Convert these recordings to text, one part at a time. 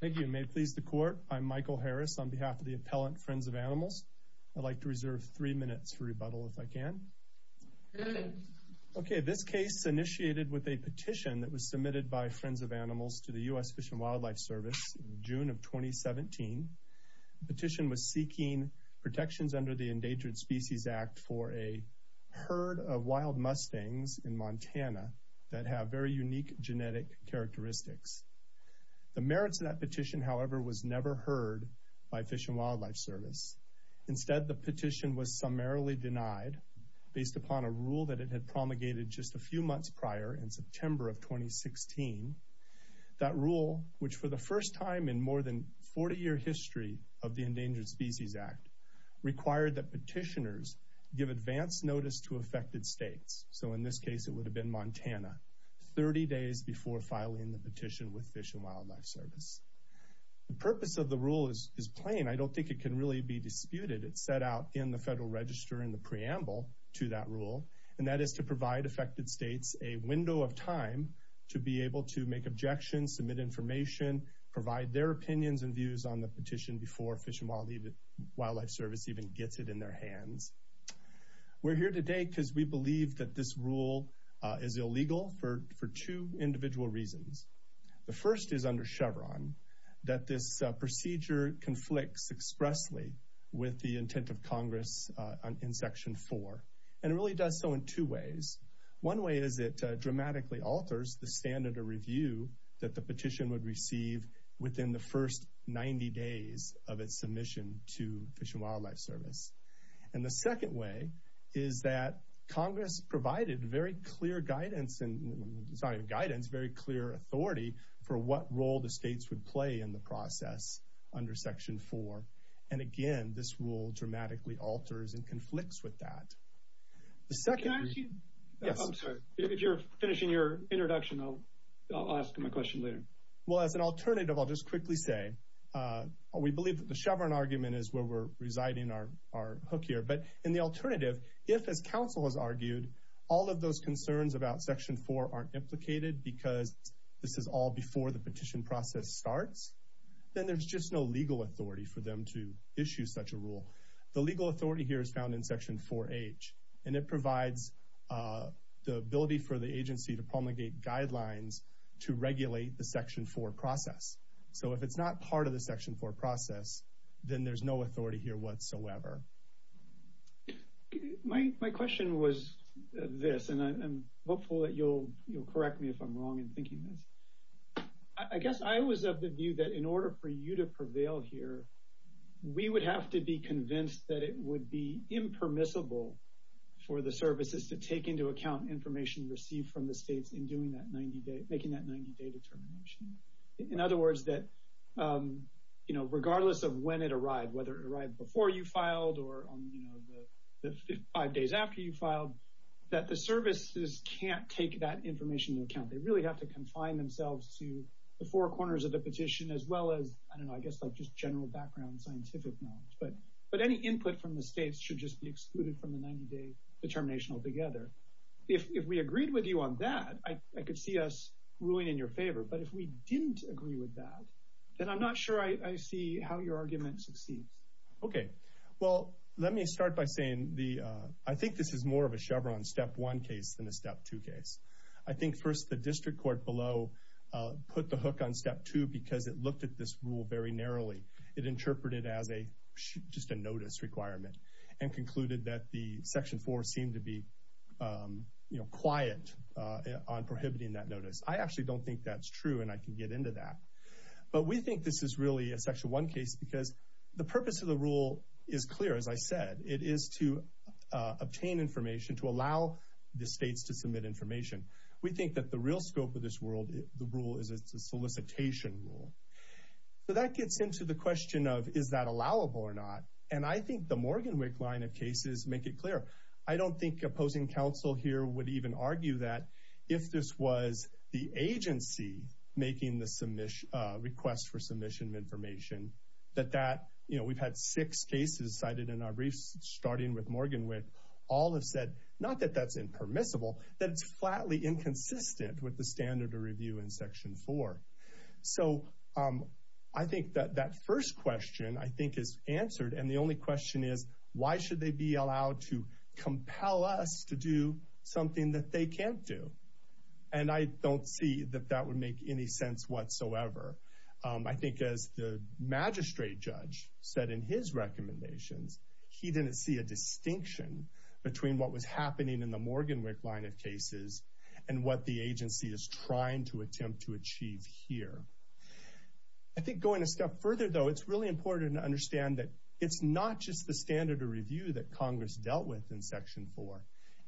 Thank you, and may it please the Court, I'm Michael Harris on behalf of the appellant Friends of Animals. I'd like to reserve three minutes for rebuttal if I can. Okay, this case initiated with a petition that was submitted by Friends of Animals to the U.S. Fish and Wildlife Service in June of 2017. The petition was seeking protections under the Endangered Species Act for a herd of wild mustangs in Montana that have very unique genetic characteristics. The merits of that petition, however, was never heard by Fish and Wildlife Service. Instead, the petition was summarily denied based upon a rule that it had promulgated just a few months prior in September of 2016. That rule, which for the first time in more than 40 year history of the Endangered Species Act, required that this case, it would have been Montana, 30 days before filing the petition with Fish and Wildlife Service. The purpose of the rule is plain. I don't think it can really be disputed. It's set out in the Federal Register in the preamble to that rule, and that is to provide affected states a window of time to be able to make objections, submit information, provide their opinions and views on the petition before Fish and Wildlife Service even gets it in their hands. We're here today because we believe that this rule is illegal for two individual reasons. The first is under Chevron that this procedure conflicts expressly with the intent of Congress in Section 4, and it really does so in two ways. One way is it dramatically alters the standard of review that the petition would receive within the first 90 days of its submission to Fish and Wildlife Service. And the second way is that Congress provided very clear guidance and, it's not even guidance, very clear authority for what role the states would play in the process under Section 4. And again, this rule dramatically alters and conflicts with that. If you're finishing your introduction, I'll ask my question later. Well, as an alternative, I'll just quickly say we believe that the are hookier. But in the alternative, if as council has argued, all of those concerns about Section 4 aren't implicated because this is all before the petition process starts, then there's just no legal authority for them to issue such a rule. The legal authority here is found in Section 4H, and it provides the ability for the agency to promulgate guidelines to regulate the Section 4 process. So if it's not part of the Section 4 process, then there's no legal authority for it whatsoever. My question was this, and I'm hopeful that you'll correct me if I'm wrong in thinking this. I guess I was of the view that in order for you to prevail here, we would have to be convinced that it would be impermissible for the services to take into account information received from the states in making that 90-day determination. In other words, that whether it arrived before you filed or on the five days after you filed, that the services can't take that information into account. They really have to confine themselves to the four corners of the petition as well as, I don't know, I guess like just general background scientific knowledge. But any input from the states should just be excluded from the 90-day determination altogether. If we agreed with you on that, I could see us ruling in your favor. But if we didn't agree with that, then I'm not sure I see how your argument succeeds. Okay, well let me start by saying the I think this is more of a Chevron step one case than a step two case. I think first the district court below put the hook on step two because it looked at this rule very narrowly. It interpreted as a just a notice requirement and concluded that the Section 4 seemed to be, you know, quiet on prohibiting that notice. I actually don't think that's true and I can get into that. But we think this is really a Section 1 case because the purpose of the rule is clear, as I said. It is to obtain information, to allow the states to submit information. We think that the real scope of this world, the rule is a solicitation rule. So that gets into the question of is that allowable or not? And I think the Morgan Wick line of cases make it clear. I don't think opposing counsel here would even argue that if this was the agency making the request for submission of information, that that, you know, we've had six cases cited in our briefs starting with Morgan Wick. All have said, not that that's impermissible, that it's flatly inconsistent with the standard of review in Section 4. So I think that that first question, I think, is answered and the be allowed to compel us to do something that they can't do. And I don't see that that would make any sense whatsoever. I think as the magistrate judge said in his recommendations, he didn't see a distinction between what was happening in the Morgan Wick line of cases and what the agency is trying to attempt to achieve here. I think going a step further, though, it's really important to it's not just the standard of review that Congress dealt with in Section 4.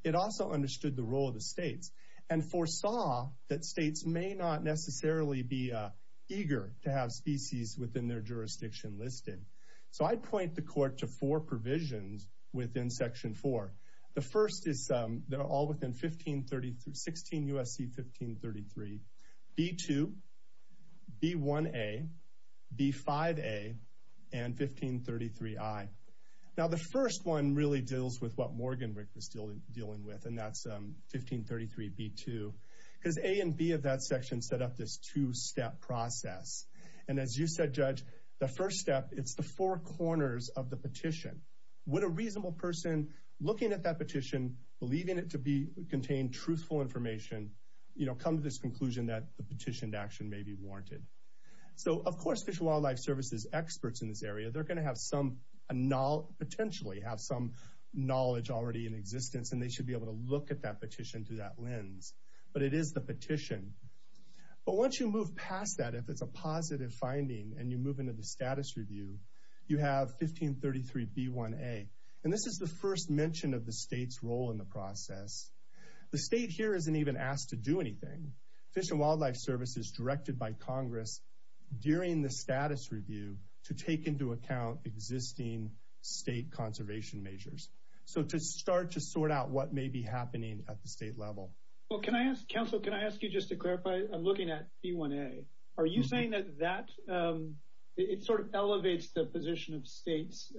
It also understood the role of the states and foresaw that states may not necessarily be eager to have species within their jurisdiction listed. So I point the court to four provisions within Section 4. The first is that are within 1533, 16 U.S.C. 1533, B2, B1A, B5A, and 1533I. Now the first one really deals with what Morgan Wick was dealing with and that's 1533B2. Because A and B of that section set up this two-step process. And as you said, Judge, the first step, it's the four corners of the petition. Would a reasonable person looking at that petition, believing it to be contained truthful information, you know, come to this conclusion that the petitioned action may be warranted. So of course Fish and Wildlife Service's experts in this area, they're going to have some knowledge, potentially have some knowledge already in existence and they should be able to look at that petition through that lens. But it is the petition. But once you move past that, if it's a positive finding and you move into the status review, you have 1533B1A. And this is the first mention of the state's role in the process. The state here isn't even asked to do anything. Fish and Wildlife Service is directed by Congress during the status review to take into account existing state conservation measures. So to start to sort out what may be happening at the state level. Well, can I ask, counsel, can it sort of elevates the position of states,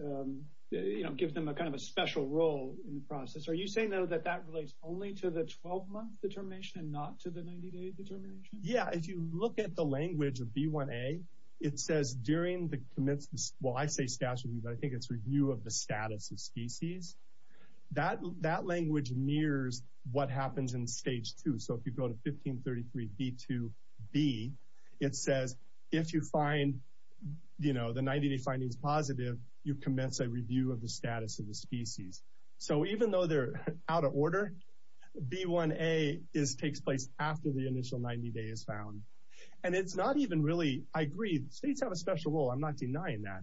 you know, gives them a kind of a special role in the process. Are you saying, though, that that relates only to the 12-month determination and not to the 90-day determination? Yeah, if you look at the language of B1A, it says during the commencement, well, I say status review, but I think it's review of the status of species. That language mirrors what happens in stage two. So if you go to 1533B2B, it says if you find, you know, the 90-day findings positive, you commence a review of the status of the species. So even though they're out of order, B1A takes place after the initial 90-day is found. And it's not even really, I agree, states have a special role. I'm not denying that.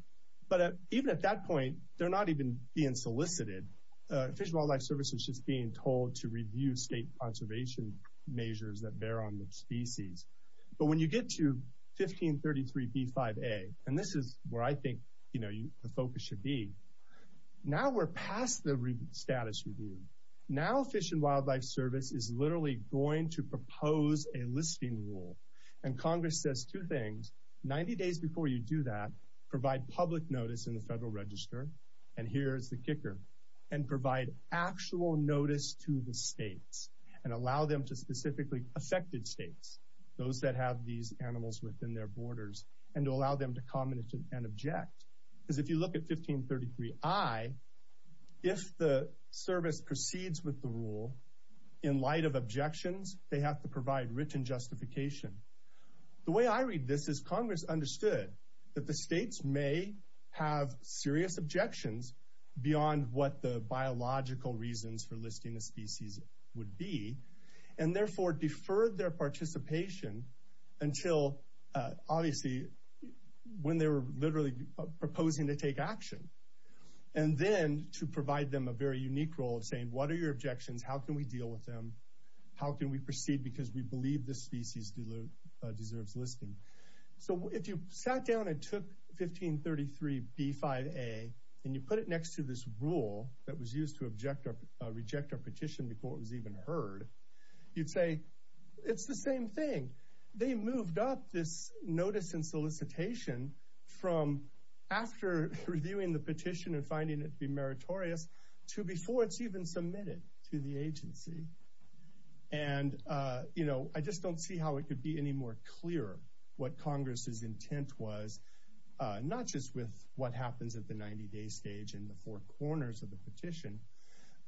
But even at that point, they're not even being solicited. Fish and Wildlife Service is just being told to review state conservation measures that bear on the species. But when you get to 1533B5A, and this is where I think, you know, the focus should be, now we're past the status review. Now Fish and Wildlife Service is literally going to propose a listing rule. And Congress says two things. 90 days before you do that, provide public notice in the Federal Register, and here is the kicker, and provide actual notice to the states, and allow them to specifically affected states, those that have these animals within their borders, and allow them to comment and object. Because if you look at 1533I, if the service proceeds with the rule, in light of objections, they have to provide written justification. The way I read this is Congress understood that the states may have serious objections beyond what the biological reasons for listing a species would be, and therefore deferred their participation until, obviously, when they were literally proposing to take action. And then to provide them a very unique role of saying, what are your objections? How can we deal with them? How can we proceed? Because we believe this species deserves listing. So if you sat down and took 1533B5A, and you put it next to this rule that was used to object or reject our petition before it was even heard, you'd say, it's the same thing. They moved up this notice and solicitation from after reviewing the petition and finding it to be meritorious, to before it's even submitted to the agency. And, you know, I just don't see how it could be any more clear what Congress's intent was, not just with what happens at the 90-day stage in the four corners of the petition,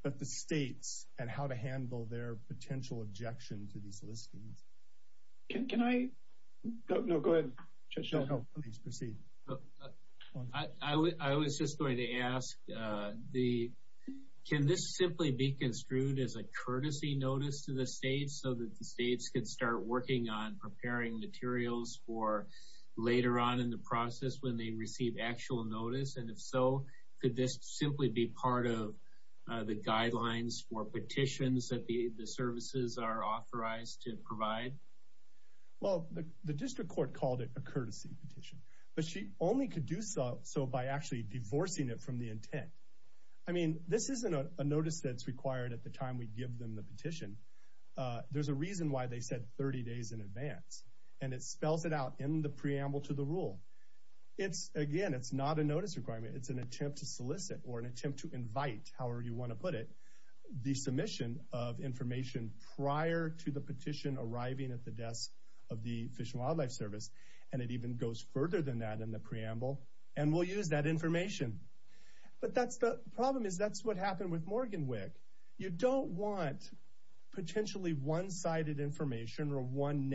but the states and how to handle their potential objection to these listings. Can I? No, go ahead, Chuck. Please proceed. I was just going to ask, can this simply be construed as a courtesy notice to the later on in the process when they receive actual notice? And if so, could this simply be part of the guidelines for petitions that the services are authorized to provide? Well, the district court called it a courtesy petition, but she only could do so by actually divorcing it from the intent. I mean, this isn't a notice that's required at the time we give them the petition. There's a preamble to the rule. It's, again, it's not a notice requirement. It's an attempt to solicit or an attempt to invite, however you want to put it, the submission of information prior to the petition arriving at the desk of the Fish and Wildlife Service. And it even goes further than that in the preamble, and we'll use that information. But that's the problem, is that's what happened with Morgan WIC. You don't want potentially one-sided information or one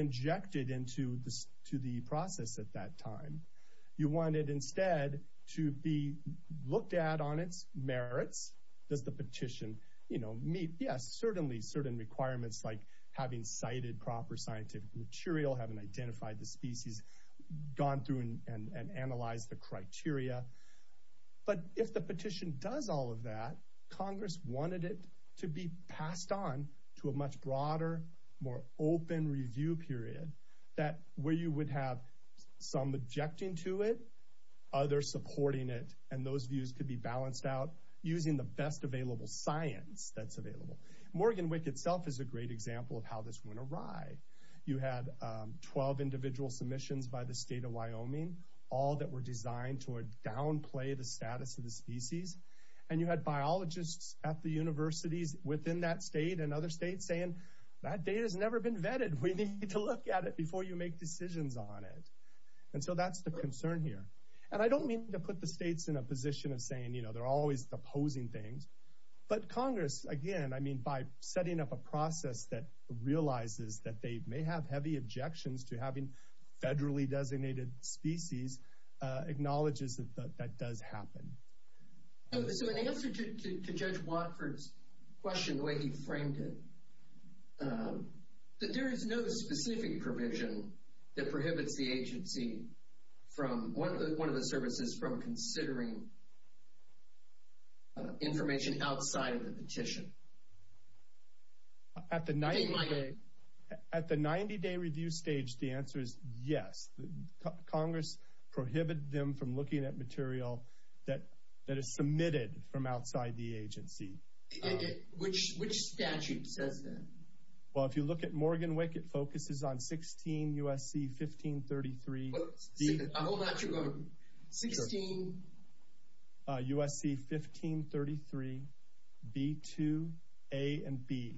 objected into the process at that time. You want it instead to be looked at on its merits. Does the petition, you know, meet, yes, certainly certain requirements like having cited proper scientific material, having identified the species, gone through and analyzed the criteria. But if the petition does all of that, Congress wanted it to be passed on to a much broader, more open review period that where you would have some objecting to it, others supporting it, and those views could be balanced out using the best available science that's available. Morgan WIC itself is a great example of how this went awry. You had 12 individual submissions by the state of Wyoming, all that were designed to downplay the at the universities within that state and other states saying, that data has never been vetted. We need to look at it before you make decisions on it. And so that's the concern here. And I don't mean to put the states in a position of saying, you know, they're always opposing things. But Congress, again, I mean, by setting up a process that realizes that they may have heavy objections to having federally designated species, acknowledges that that does happen. So in answer to Judge Watford's question, the way he framed it, that there is no specific provision that prohibits the agency from, one of the services, from considering information outside of the petition. At the 90-day review stage, the answer is yes. Congress prohibited them from looking at material that is submitted from outside the agency. Which statute says that? Well, if you look at Morgan WIC, it focuses on 16 USC 1533. Hold on, hold on. 16... USC 1533, B2, A, and B.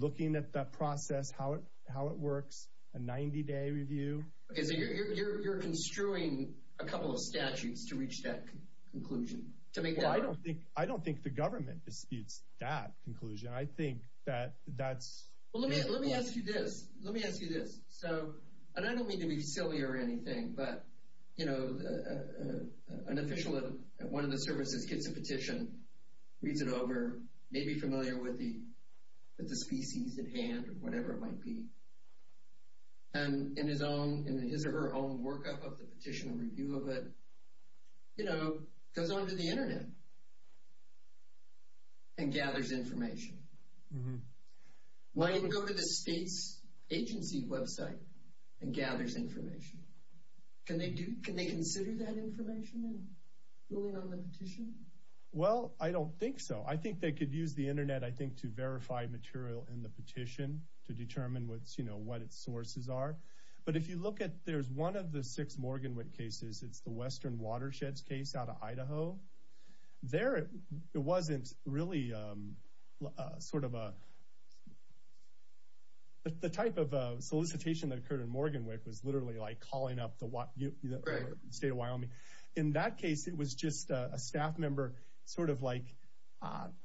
Looking at that process, how it works, a 90-day review. So you're construing a couple of statutes to reach that conclusion? Well, I don't think the government disputes that conclusion. I think that that's... Well, let me ask you this. Let me ask you this. So, and I don't mean to be silly or anything, but, you know, an official at one of the services gets a petition, reads it over, may be familiar with the species at hand, or whatever it might be. And in his own, in his or her own workup of the petition and review of it, you know, goes on to the internet and gathers information. Why even go to the state's agency website and gathers information? Can they do, can they consider that information in ruling on the petition? Well, I don't think so. I think they could use the internet, I think, to verify material in the petition to determine what, you know, what its sources are. But if you look at, there's one of the six Morgan Wick cases. It's the Western Watersheds case out of Idaho. There it wasn't really sort of a... The type of solicitation that occurred in Morgan Wick was literally like calling up the state of Wyoming. In that case, it was just a staff member sort of like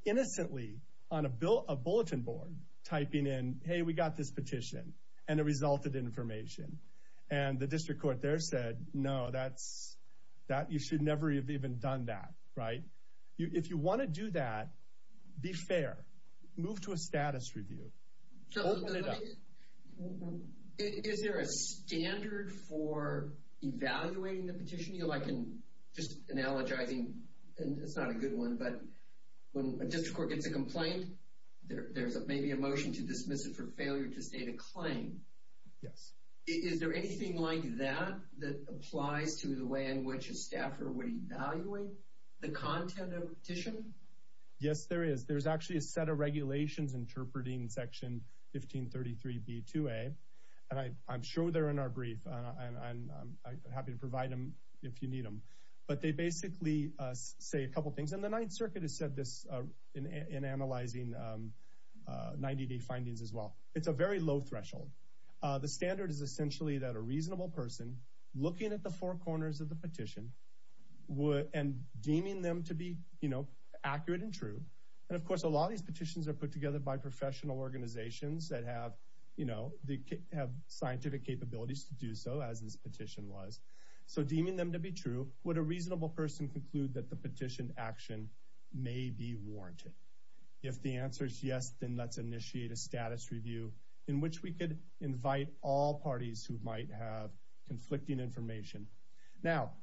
innocently on a bulletin board typing in, hey, we got this petition, and the result of the information. And the district court there said, no, that's, you should never have even done that. Right? If you want to do that, be fair. Move to a status review. Is there a standard for evaluating the petition? Just analogizing, and it's not a good one, but when a district court gets a complaint, there's maybe a motion to dismiss it for failure to state a claim. Yes. Is there anything like that that applies to the way in which a staffer would evaluate the content of a petition? Yes, there is. There's actually a set of regulations interpreting section 1533B2A, and I'm sure they're in our brief. I'm happy to provide them if you need them. But they basically say a couple things, and the Ninth Circuit has said this in analyzing 90-day findings as well. It's a very low threshold. The standard is essentially that a reasonable person looking at the four corners of the petition and deeming them to be accurate and true. And of course, a lot of these petitions are put together by professional organizations that have scientific capabilities to do so, as this petition was. So deeming them to be true, would a reasonable person conclude that the petitioned action may be warranted? If the answer is yes, then let's initiate a status review in which we could invite all parties who might have conflicting information. Now,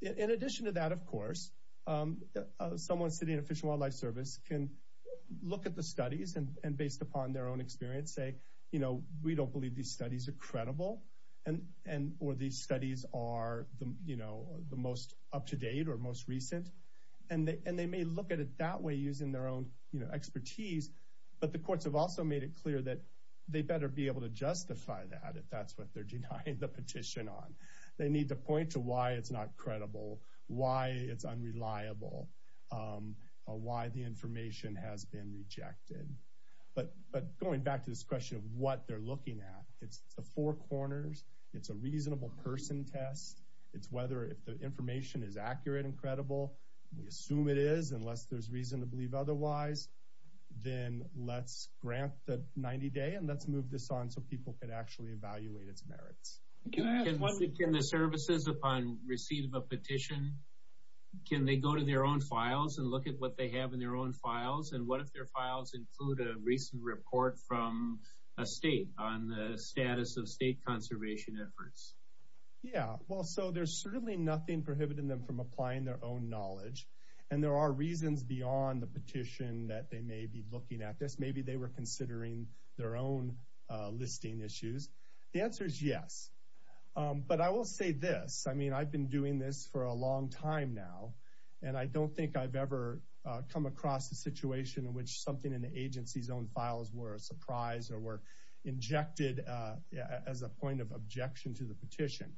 in addition to that, of course, someone sitting at Fish and Wildlife Service can look at the studies, and based upon their own experience, say, you know, we don't believe these studies are credible, or these studies are the most up-to-date or most recent. And they may look at it that way using their own expertise, but the courts have also made it clear that they better be able to justify that if that's what they're denying the petition on. They need to point to why it's not credible, why it's unreliable, or why the information has been rejected. But going back to this question of what they're looking at, it's the four corners, it's a reasonable person test, it's whether the information is accurate and credible. We assume it is, unless there's reason to believe otherwise. Then let's grant the 90-day, and let's move this on so people can actually evaluate its merits. Can the services, upon receiving a petition, can they go to their own files and look at what they have in their own records? Can they include a recent report from a state on the status of state conservation efforts? Yeah, well, so there's certainly nothing prohibiting them from applying their own knowledge, and there are reasons beyond the petition that they may be looking at this. Maybe they were considering their own listing issues. The answer is yes. But I will say this, I mean, I've been doing this for a long time now, and I don't think I've ever come across a situation in which something in the agency's own files were a surprise or were injected as a point of objection to the petition.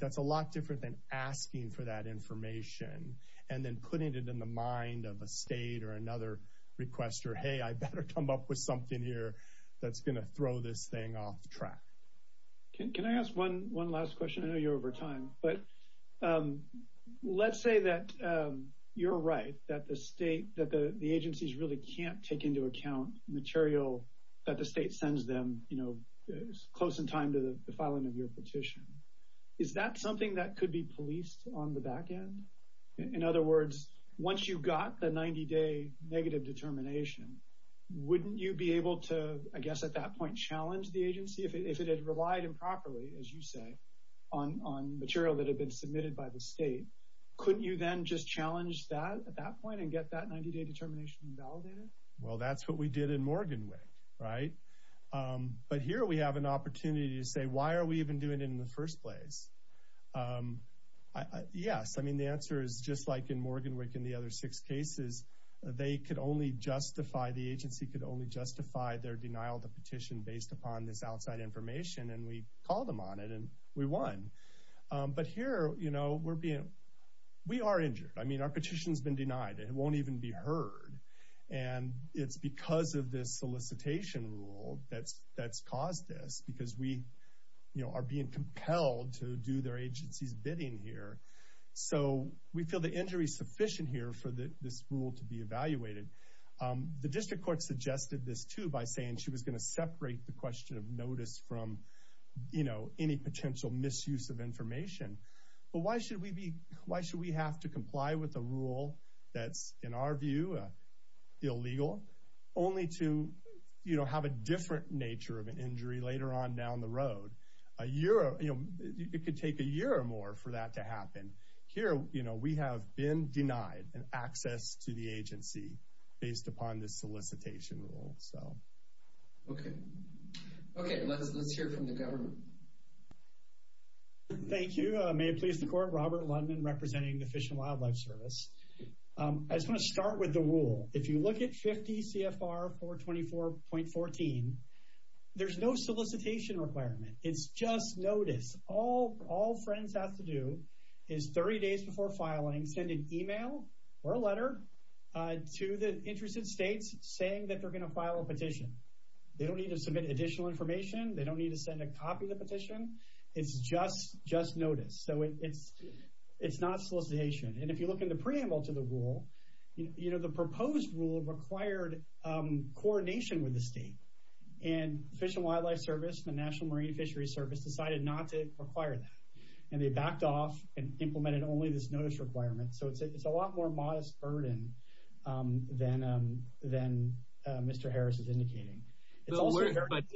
That's a lot different than asking for that information and then putting it in the mind of a state or another requester, hey, I better come up with something here that's going to throw this thing off track. Can I ask one last question? I know you're over time, but let's say that you're right, that the agencies really can't take into account material that the state sends them close in time to the filing of your petition. Is that something that could be policed on the back end? In other words, once you got the 90-day negative determination, wouldn't you be able to, I guess at that point, challenge the agency if it had relied improperly, as you say, on material that had been submitted by the state? Couldn't you then just challenge that at that point and get that 90-day determination invalidated? Well, that's what we did in Morganwick, right? But here we have an opportunity to say, why are we even doing it in the first place? Yes, I mean, the answer is just like in Morganwick and the other six cases, they could only justify, the agency could only justify their denial of the petition based upon this outside information, and we called them on it, and we won. But here, we are injured. I mean, our petition's been denied. It won't even be heard. It's because of this solicitation rule that's caused this because we are being compelled to do their agency's bidding here. So we feel the injury's sufficient here for this rule to be evaluated. The district court suggested this too by saying she was going to separate the question of notice from any potential misuse of information. But why should we have to comply with a rule that's, in our view, illegal, only to have a different nature of an injury later on down the road? It could take a year or more for that to happen. Here, we have been denied access to the agency based upon this solicitation rule. Okay, let's hear from the government. Thank you. May it please the court, Robert Ludman, representing the Fish and Wildlife Service. I just want to start with the rule. If you look at 50 CFR 424.14, there's no solicitation requirement. It's just notice. All friends have to do is, 30 days before filing, send an email or a letter to the interested states saying that they're going to file a petition. They don't need to submit additional information. They don't need to send a copy of the petition. It's just notice. So it's not solicitation. And if you look in the preamble to the rule, the proposed rule required coordination with the state. And Fish and Wildlife Service, the National Marine Fishery Service, decided not to require that. And they backed off and implemented only this notice requirement. So it's a lot more modest burden than Mr. Harris is indicating. But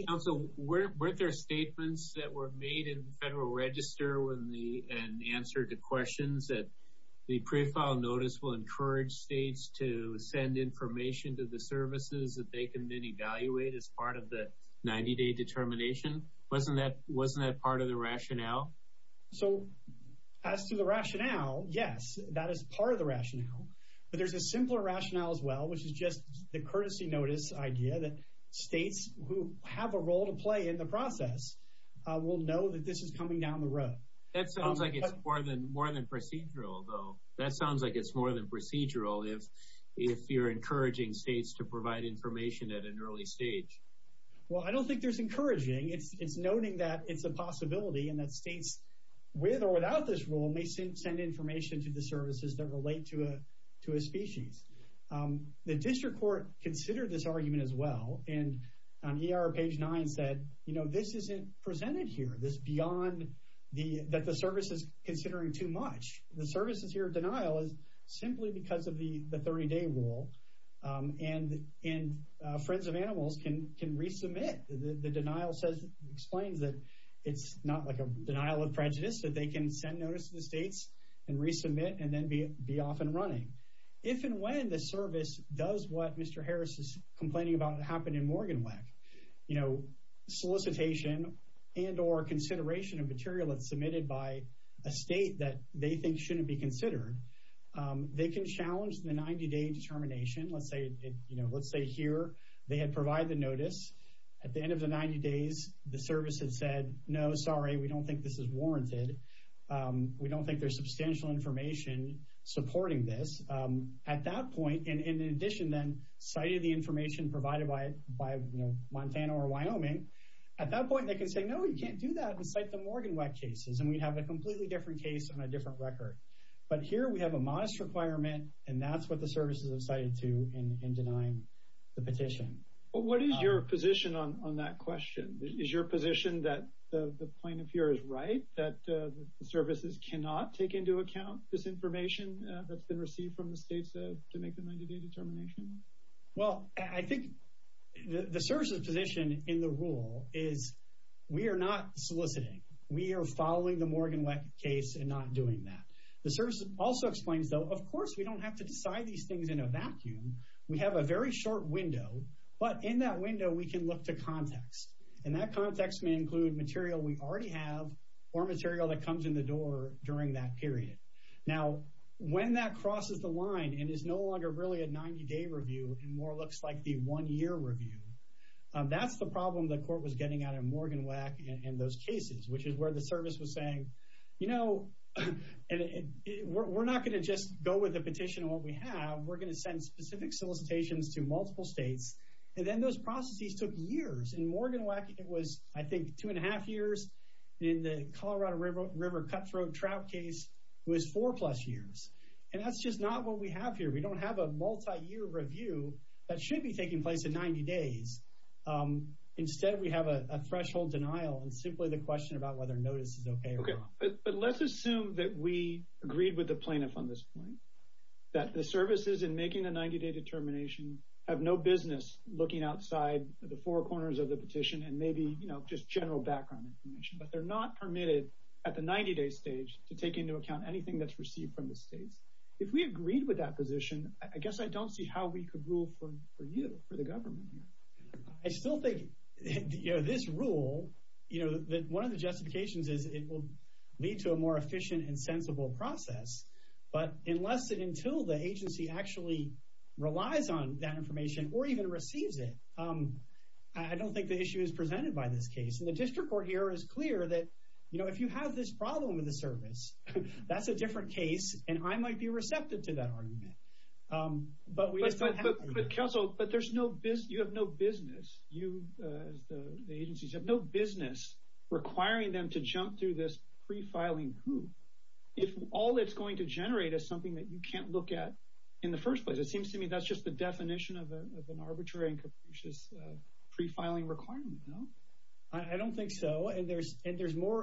counsel, weren't there statements that were made in the Federal Register and answered to questions that the pre-filed notice will encourage states to send information to the services that they can then evaluate as part of the 90-day determination? Wasn't that part of the rationale? So, as to the rationale, yes. That is part of the rationale. But there's a simpler rationale as well, which is just the courtesy notice idea that states who have a role to play in the process will know that this is coming down the road. That sounds like it's more than procedural, though. That sounds like it's more than procedural if you're encouraging states to provide information at an early stage. Well, I don't think there's encouraging. It's noting that it's a possibility and that states with or without this role may send information to the services that relate to a species. The district court considered this argument as well and on ER page 9 said, you know, this isn't presented here, that the service is considering too much. The services here denial is simply because of the 30-day rule and Friends of Animals can resubmit. The denial explains that it's not like denial of prejudice, that they can send notice to the states and resubmit and then be off and running. If and when the service does what Mr. Harris is complaining about happened in Morganweck, solicitation and or consideration of material that's submitted by a state that they think shouldn't be considered, they can challenge the 90-day determination. Let's say here they had provided the notice. At the end of the 90 days, the we don't think this is warranted. We don't think there's substantial information supporting this. At that point, and in addition then, citing the information provided by Montana or Wyoming, at that point they can say, no, you can't do that and cite the Morganweck cases and we'd have a completely different case on a different record. But here we have a modest requirement and that's what the services have cited to in denying Is it right that the services cannot take into account this information that's been received from the states to make the 90-day determination? Well, I think the service's position in the rule is we are not soliciting. We are following the Morganweck case and not doing that. The service also explains, though, of course we don't have to decide these things in a vacuum. We have a very short window but in that window we can look to context. And that context may include material we already have or material that comes in the door during that period. Now, when that crosses the line and is no longer really a 90-day review and more looks like the one-year review, that's the problem the court was getting out of Morganweck and those cases, which is where the service was saying, you know, we're not going to just go with the petition and what we have. We're going to send specific solicitations to multiple states. And then those processes took years. In Morganweck, it was, I think, two and a half years. In the Colorado River Cutthroat Trout case, it was four plus years. And that's just not what we have here. We don't have a multi-year review that should be taking place in 90 days. Instead, we have a threshold denial and simply the question about whether notice is okay or not. But let's assume that we agreed with the plaintiff on this point. That the services in making the 90-day determination have no business looking outside the four corners of the petition and maybe, you know, just general background information. But they're not permitted at the 90-day stage to take into account anything that's received from the states. If we agreed with that position, I guess I don't see how we could rule for you, for the government here. I still think, you know, this rule, you know, that one of the justifications is it will lead to a more efficient and sensible process. But unless and until the agency actually relies on that information or even receives it, I don't think the issue is presented by this case. And the district court here is clear that, you know, if you have this problem with the service, that's a different case and I might be receptive to that argument. But there's no business. You have no business. The agencies have no business requiring them to jump through this pre-filing hoop. If all it's going to generate is something that you can't look at in the first place, it seems to me that's just the definition of an arbitrary and capricious pre-filing requirement, no? I don't think so. And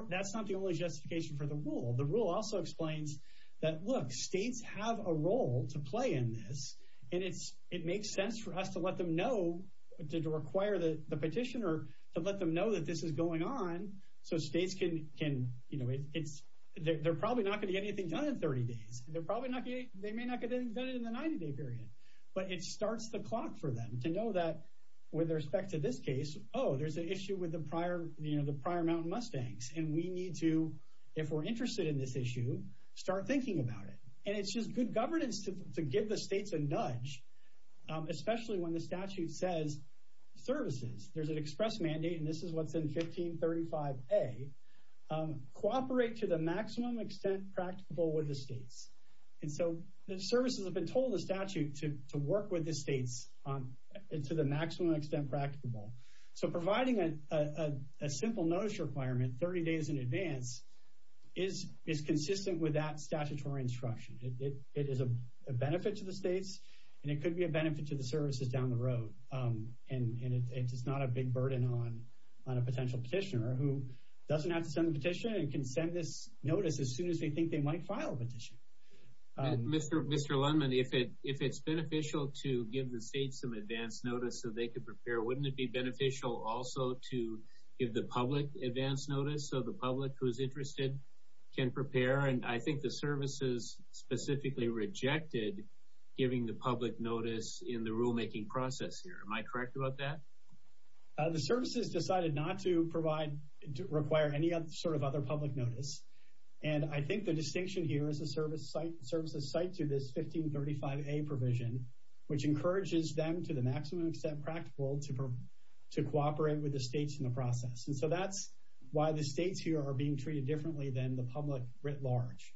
that's not the only justification for the rule. The rule also explains that, look, states have a role to play in this. And it makes sense for us to let them know, to require the petitioner to let them know that this is going on so states can you know, they're probably not going to get anything done in 30 days. They may not get anything done in the 90-day period. But it starts the clock for them to know that, with respect to this case, oh, there's an issue with the prior mountain mustangs and we need to if we're interested in this issue, start thinking about it. And it's just good governance to give the states a nudge, especially when the statute says services, there's an express mandate and this is what's in 1535A, cooperate to the maximum extent practicable with the states. And so the services have been told in the statute to work with the states to the maximum extent practicable. So providing a simple notice requirement 30 days in advance is consistent with that statutory instruction. It is a benefit to the states and it could be a benefit to the services down the road. And it's not a big burden on a potential petitioner who doesn't have to send this notice as soon as they think they might file a petition. Mr. Lundman, if it's beneficial to give the states some advance notice so they can prepare, wouldn't it be beneficial also to give the public advance notice so the public who is interested can prepare? And I think the services specifically rejected giving the public notice in the rulemaking process here. Am I correct about that? The services decided not to provide or require any sort of other public notice. And I think the distinction here is the services cite to this 1535A provision, which encourages them to the maximum extent practicable to cooperate with the states in the process. And so that's why the states here are being treated differently than the public writ large.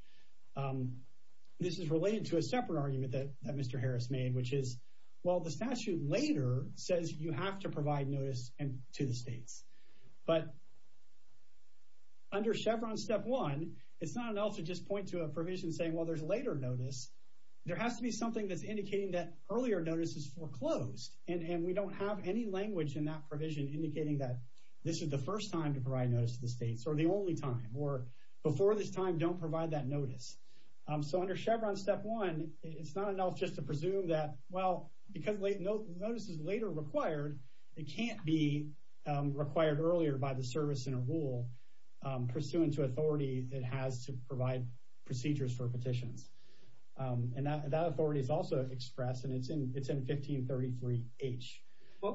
This is related to a separate argument that Mr. Harris made, which is well, the statute later says you have to provide notice to the states. But under Chevron Step 1, it's not enough to just point to a provision saying, well, there's later notice. There has to be something that's indicating that earlier notice is foreclosed. And we don't have any language in that provision indicating that this is the first time to provide notice to the states, or the only time, or before this time, don't provide that notice. So under Chevron Step 1, it's not enough just to presume that, well, because notice is later required, it can't be required earlier by the service and rule pursuant to authority it has to provide procedures for petitions. And that authority is also expressed, and it's in 1533H.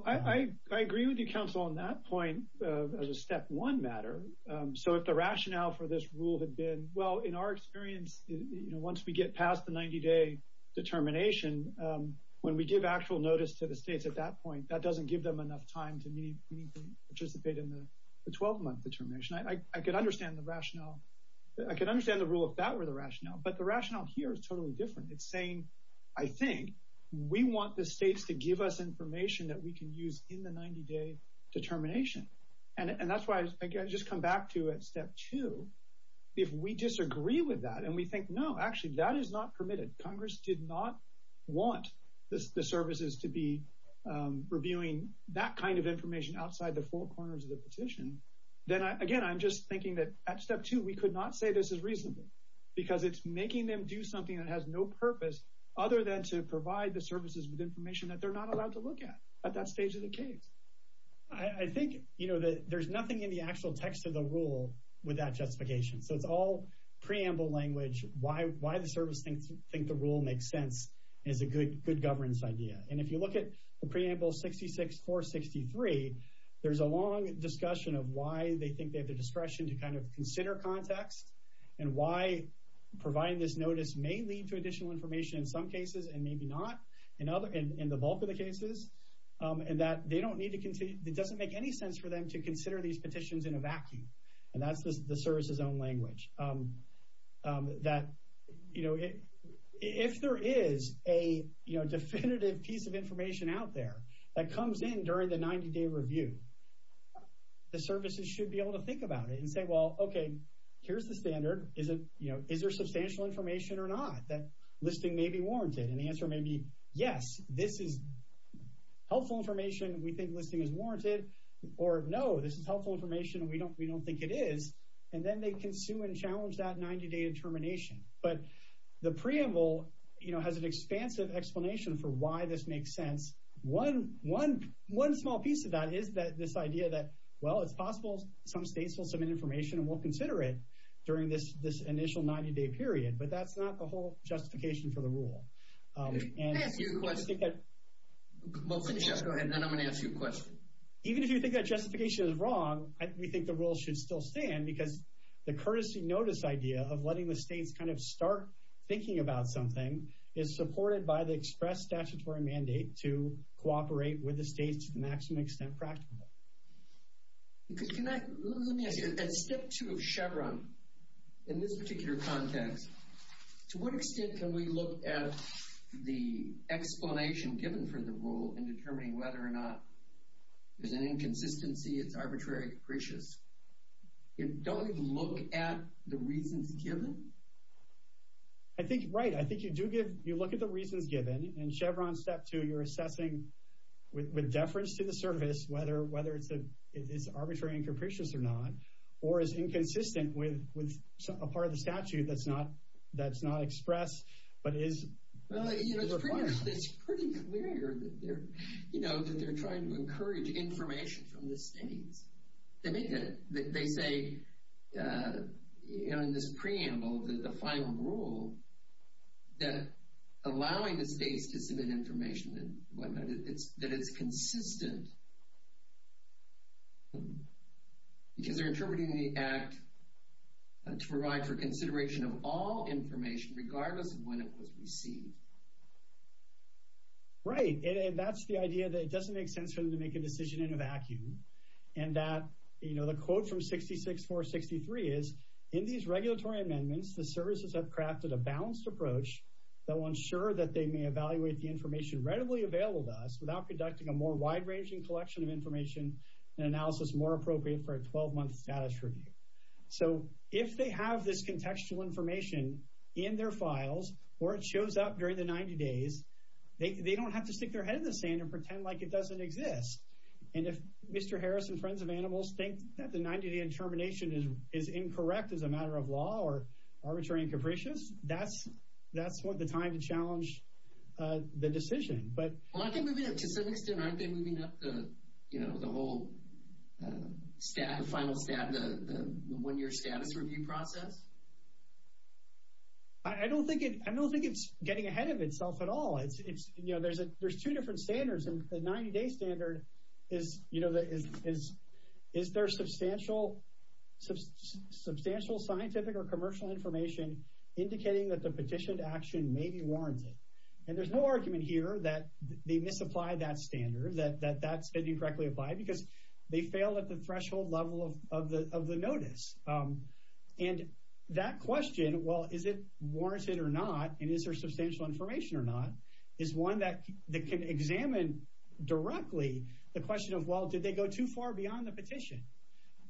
I agree with you, counsel, on that point, on the Step 1 matter. So if the rationale for this rule had been, well, in our experience, once we get past the 90-day determination, when we give actual notice to the states at that point, that doesn't give them enough time to participate in the 12-month determination. I could understand the rationale. I could understand the rule if that were the rationale. But the rationale here is totally different. It's saying, I think, we want the states to give us information that we can use in the 90-day determination. And that's why I just come back to it at Step 2. If we disagree with that, and we think, no, actually, that is not permitted. Congress did not want the services to be reviewing that kind of information outside the four corners of the petition, then, again, I'm just thinking that at Step 2 we could not say this as reasonably, because it's making them do something that has no purpose other than to provide the services with information that they're not allowed to look at at that stage of the case. I think there's nothing in the actual text of the rule with that justification. So it's all preamble language. Why the service think the rule makes sense is a good governance idea. And if you look at the preamble 66-463, there's a long discussion of why they think they have the discretion to kind of consider context and why providing this notice may lead to additional information in some cases and maybe not in the bulk of the cases and that it doesn't make any sense for them to consider these petitions in a vacuum. And that's the service's own language. If there is a definitive piece of information out there that comes in during the 90-day review, the services should be able to think about it and say, well, okay, here's the standard. Is there substantial information or not that listing may be warranted? And the answer may be, yes, this is helpful information. We think listing is warranted. Or, no, this is helpful information and we don't think it is. And then they consume and challenge that 90-day determination. The preamble has an expansive explanation for why this makes sense. One small piece of that is this idea that, well, it's possible some states will submit information and won't consider it during this initial 90-day period. But that's not the whole justification for the rule. Even if you think that justification is wrong, we think the rule should still stand because the courtesy notice idea of letting the states kind of start thinking about something is supported by the express statutory mandate to cooperate with the states to the maximum extent practical. Let me ask you, at step two of Chevron, in this particular context, to what extent can we look at the explanation given for the rule in determining whether or not there's an inconsistency, it's arbitrary and capricious? Don't we look at the reasons given? Right, I think you do look at the reasons given. In Chevron step two you're assessing with deference to the service whether it's arbitrary and capricious or not, or is inconsistent with a part of the statute that's not expressed but is refined. It's pretty clear that they're trying to encourage information from the states. They say in this preamble, the final rule, that allowing the states to submit information and whatnot, that it's consistent because they're interpreting the act to provide for consideration of all information regardless of when it was received. Right, and that's the idea that it doesn't make sense for them to make a decision in a vacuum and that the quote from 66-463 is in these regulatory amendments the services have crafted a balanced approach that will ensure that they may evaluate the information readily available to us without conducting a more wide-ranging collection of information and analysis more appropriate for a 12-month status review. So if they have this in their files, or it shows up during the 90 days, they don't have to stick their head in the sand and pretend like it doesn't exist. And if Mr. Harris and Friends of Animals think that the 90-day determination is incorrect as a matter of law or arbitrary and capricious, that's the time to challenge the decision. To some extent, aren't they moving up the whole final stat, the one-year status review process? I don't think it's getting ahead of itself at all. There's two different standards, and the 90-day standard is, you know, is there substantial scientific or commercial information indicating that the petitioned action may be warranted? And there's no argument here that they misapplied that standard, that that's incorrectly applied, because they failed at the threshold level of the notice. And that question, well, is it warranted or not, and is there substantial information or not, is one that can examine directly the question of, well, did they go too far beyond the petition?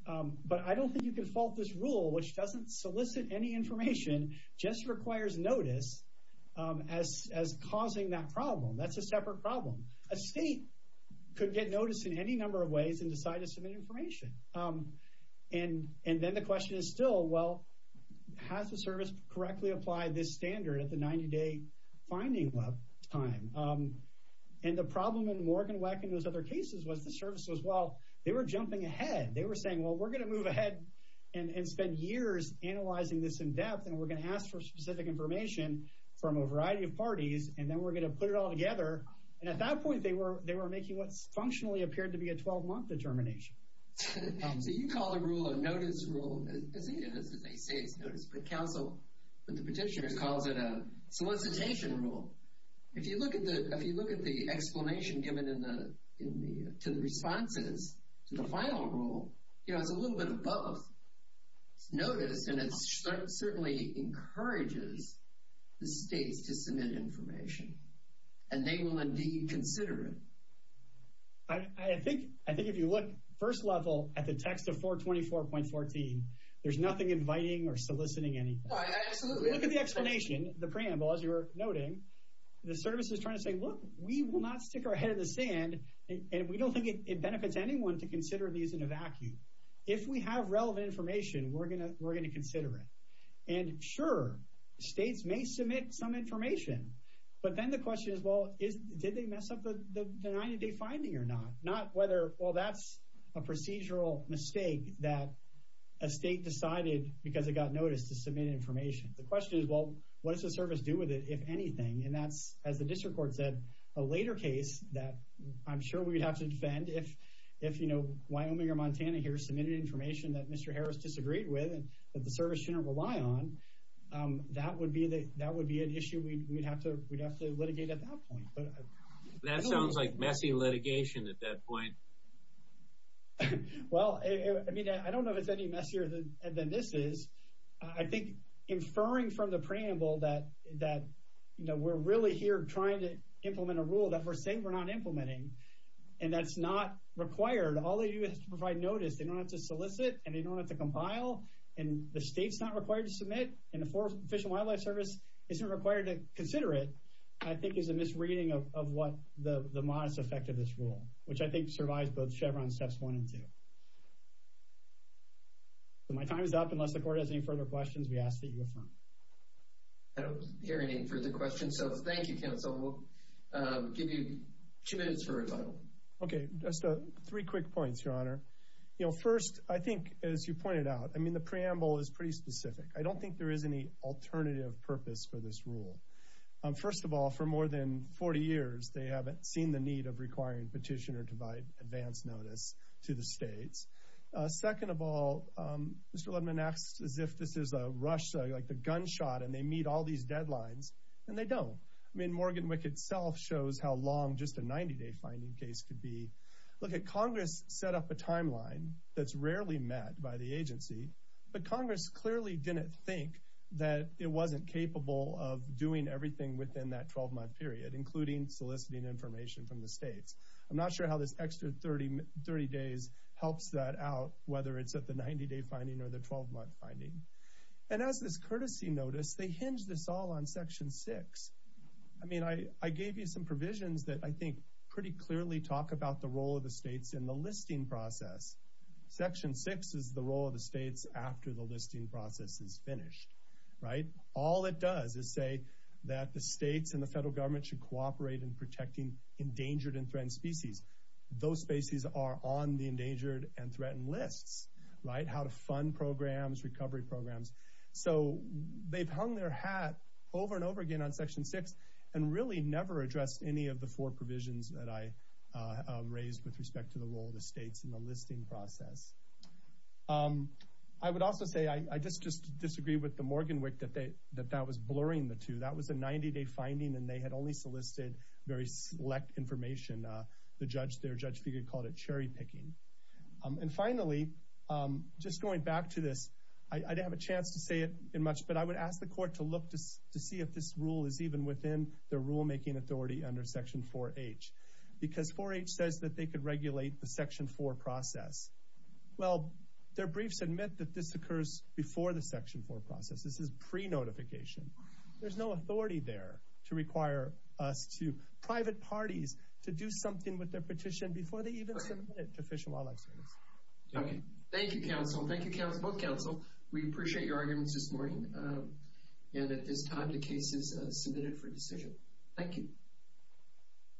But I don't think you can fault this rule, which doesn't solicit any information, just requires notice as causing that problem. That's a separate problem. A state could get notice in any number of ways and decide to submit information. And then the question is still, well, has the service correctly applied this standard at the 90-day finding time? And the problem in Morgan Weck and those other cases was the service was, well, they were jumping ahead. They were saying, well, we're going to move ahead and spend years analyzing this in depth, and we're going to ask for specific information from a variety of parties, and then we're going to put it all together. And at that point, they were making what functionally appeared to be a 12-month determination. So you call the rule a notice rule as they say it's notice, but the petitioner calls it a solicitation rule. If you look at the explanation given to the responses to the final rule, it's a little bit of both. It's notice and it certainly encourages the states to submit information, and they will indeed consider it. I think if you look first level at the text of 424.14, there's nothing inviting or soliciting anything. Look at the explanation, the preamble, as you were noting. The service is trying to say, look, we will not stick our head in the sand, and we don't think it benefits anyone to consider these in a vacuum. If we have relevant information, we're going to consider it. And sure, states may submit some information, but then the question is, well, did they mess up the 90-day finding or not? Well, that's a procedural mistake that a state decided, because it got notice, to submit information. The question is, well, what does the service do with it, if anything? And that's, as the district court said, a later case that I'm sure we'd have to defend. If Wyoming or Montana here submitted information that Mr. Harris disagreed with and that the service shouldn't rely on, that would be an issue we'd have to litigate at that point. That sounds like messy litigation at that point. Well, I don't know if it's any messier than this is. I think inferring from the preamble that we're really here trying to implement a rule that we're saying we're not implementing, and that's not required, all they do is provide notice, they don't have to solicit, and they don't have to compile, and the state's not required to submit, and the way to consider it, I think, is a misreading of the modest effect of this rule, which I think survives both Chevron steps one and two. My time is up. Unless the court has any further questions, we ask that you affirm. I don't hear any further questions, so thank you, counsel. We'll give you two minutes for revival. Okay, just three quick points, Your Honor. First, I think, as you pointed out, the preamble is pretty specific. I don't think there is any alternative purpose for this rule. First of all, for more than 40 years, they haven't seen the need of requiring petitioner to provide advance notice to the states. Second of all, Mr. Ledman asked as if this is a rush, like the gunshot, and they meet all these deadlines, and they don't. I mean, Morgan Wick itself shows how long just a 90-day finding case could be. Look, Congress set up a timeline that's rarely met by the agency, but Congress clearly didn't think that it wasn't capable of doing everything within that 12-month period, including soliciting information from the states. I'm not sure how this extra 30 days helps that out, whether it's at the 90-day finding or the 12-month finding. And as this courtesy notice, they hinge this all on Section 6. I mean, I gave you some provisions that I think pretty clearly talk about the role of the states in the listing process. Section 6 is the role of the states after the listing process is finished, right? All it does is say that the states and the federal government should cooperate in protecting endangered and threatened species. Those species are on the endangered and threatened lists, right? How to fund programs, recovery programs. So they've hung their hat over and over again on Section 6 and really never addressed any of the four provisions that I raised with respect to the role of the states in the listing process. I would also say, I just disagree with the Morgan WIC that that was blurring the two. That was a 90-day finding and they had only solicited very select information. Their judge figure called it cherry-picking. And finally, just going back to this, I didn't have a chance to say it much, but I would ask the Court to look to see if this rule is even within their rulemaking authority under Section 4H. Because 4H says that they could regulate the Section 4 process. Well, their briefs admit that this occurs before the Section 4 process. This is pre-notification. There's no authority there to require us to, private parties, to do something with their petition before they even submit it to Fish and Wildlife Service. Thank you, counsel. Thank you, both counsel. We appreciate your arguments this morning. And at this time, the case is submitted for decision. Thank you.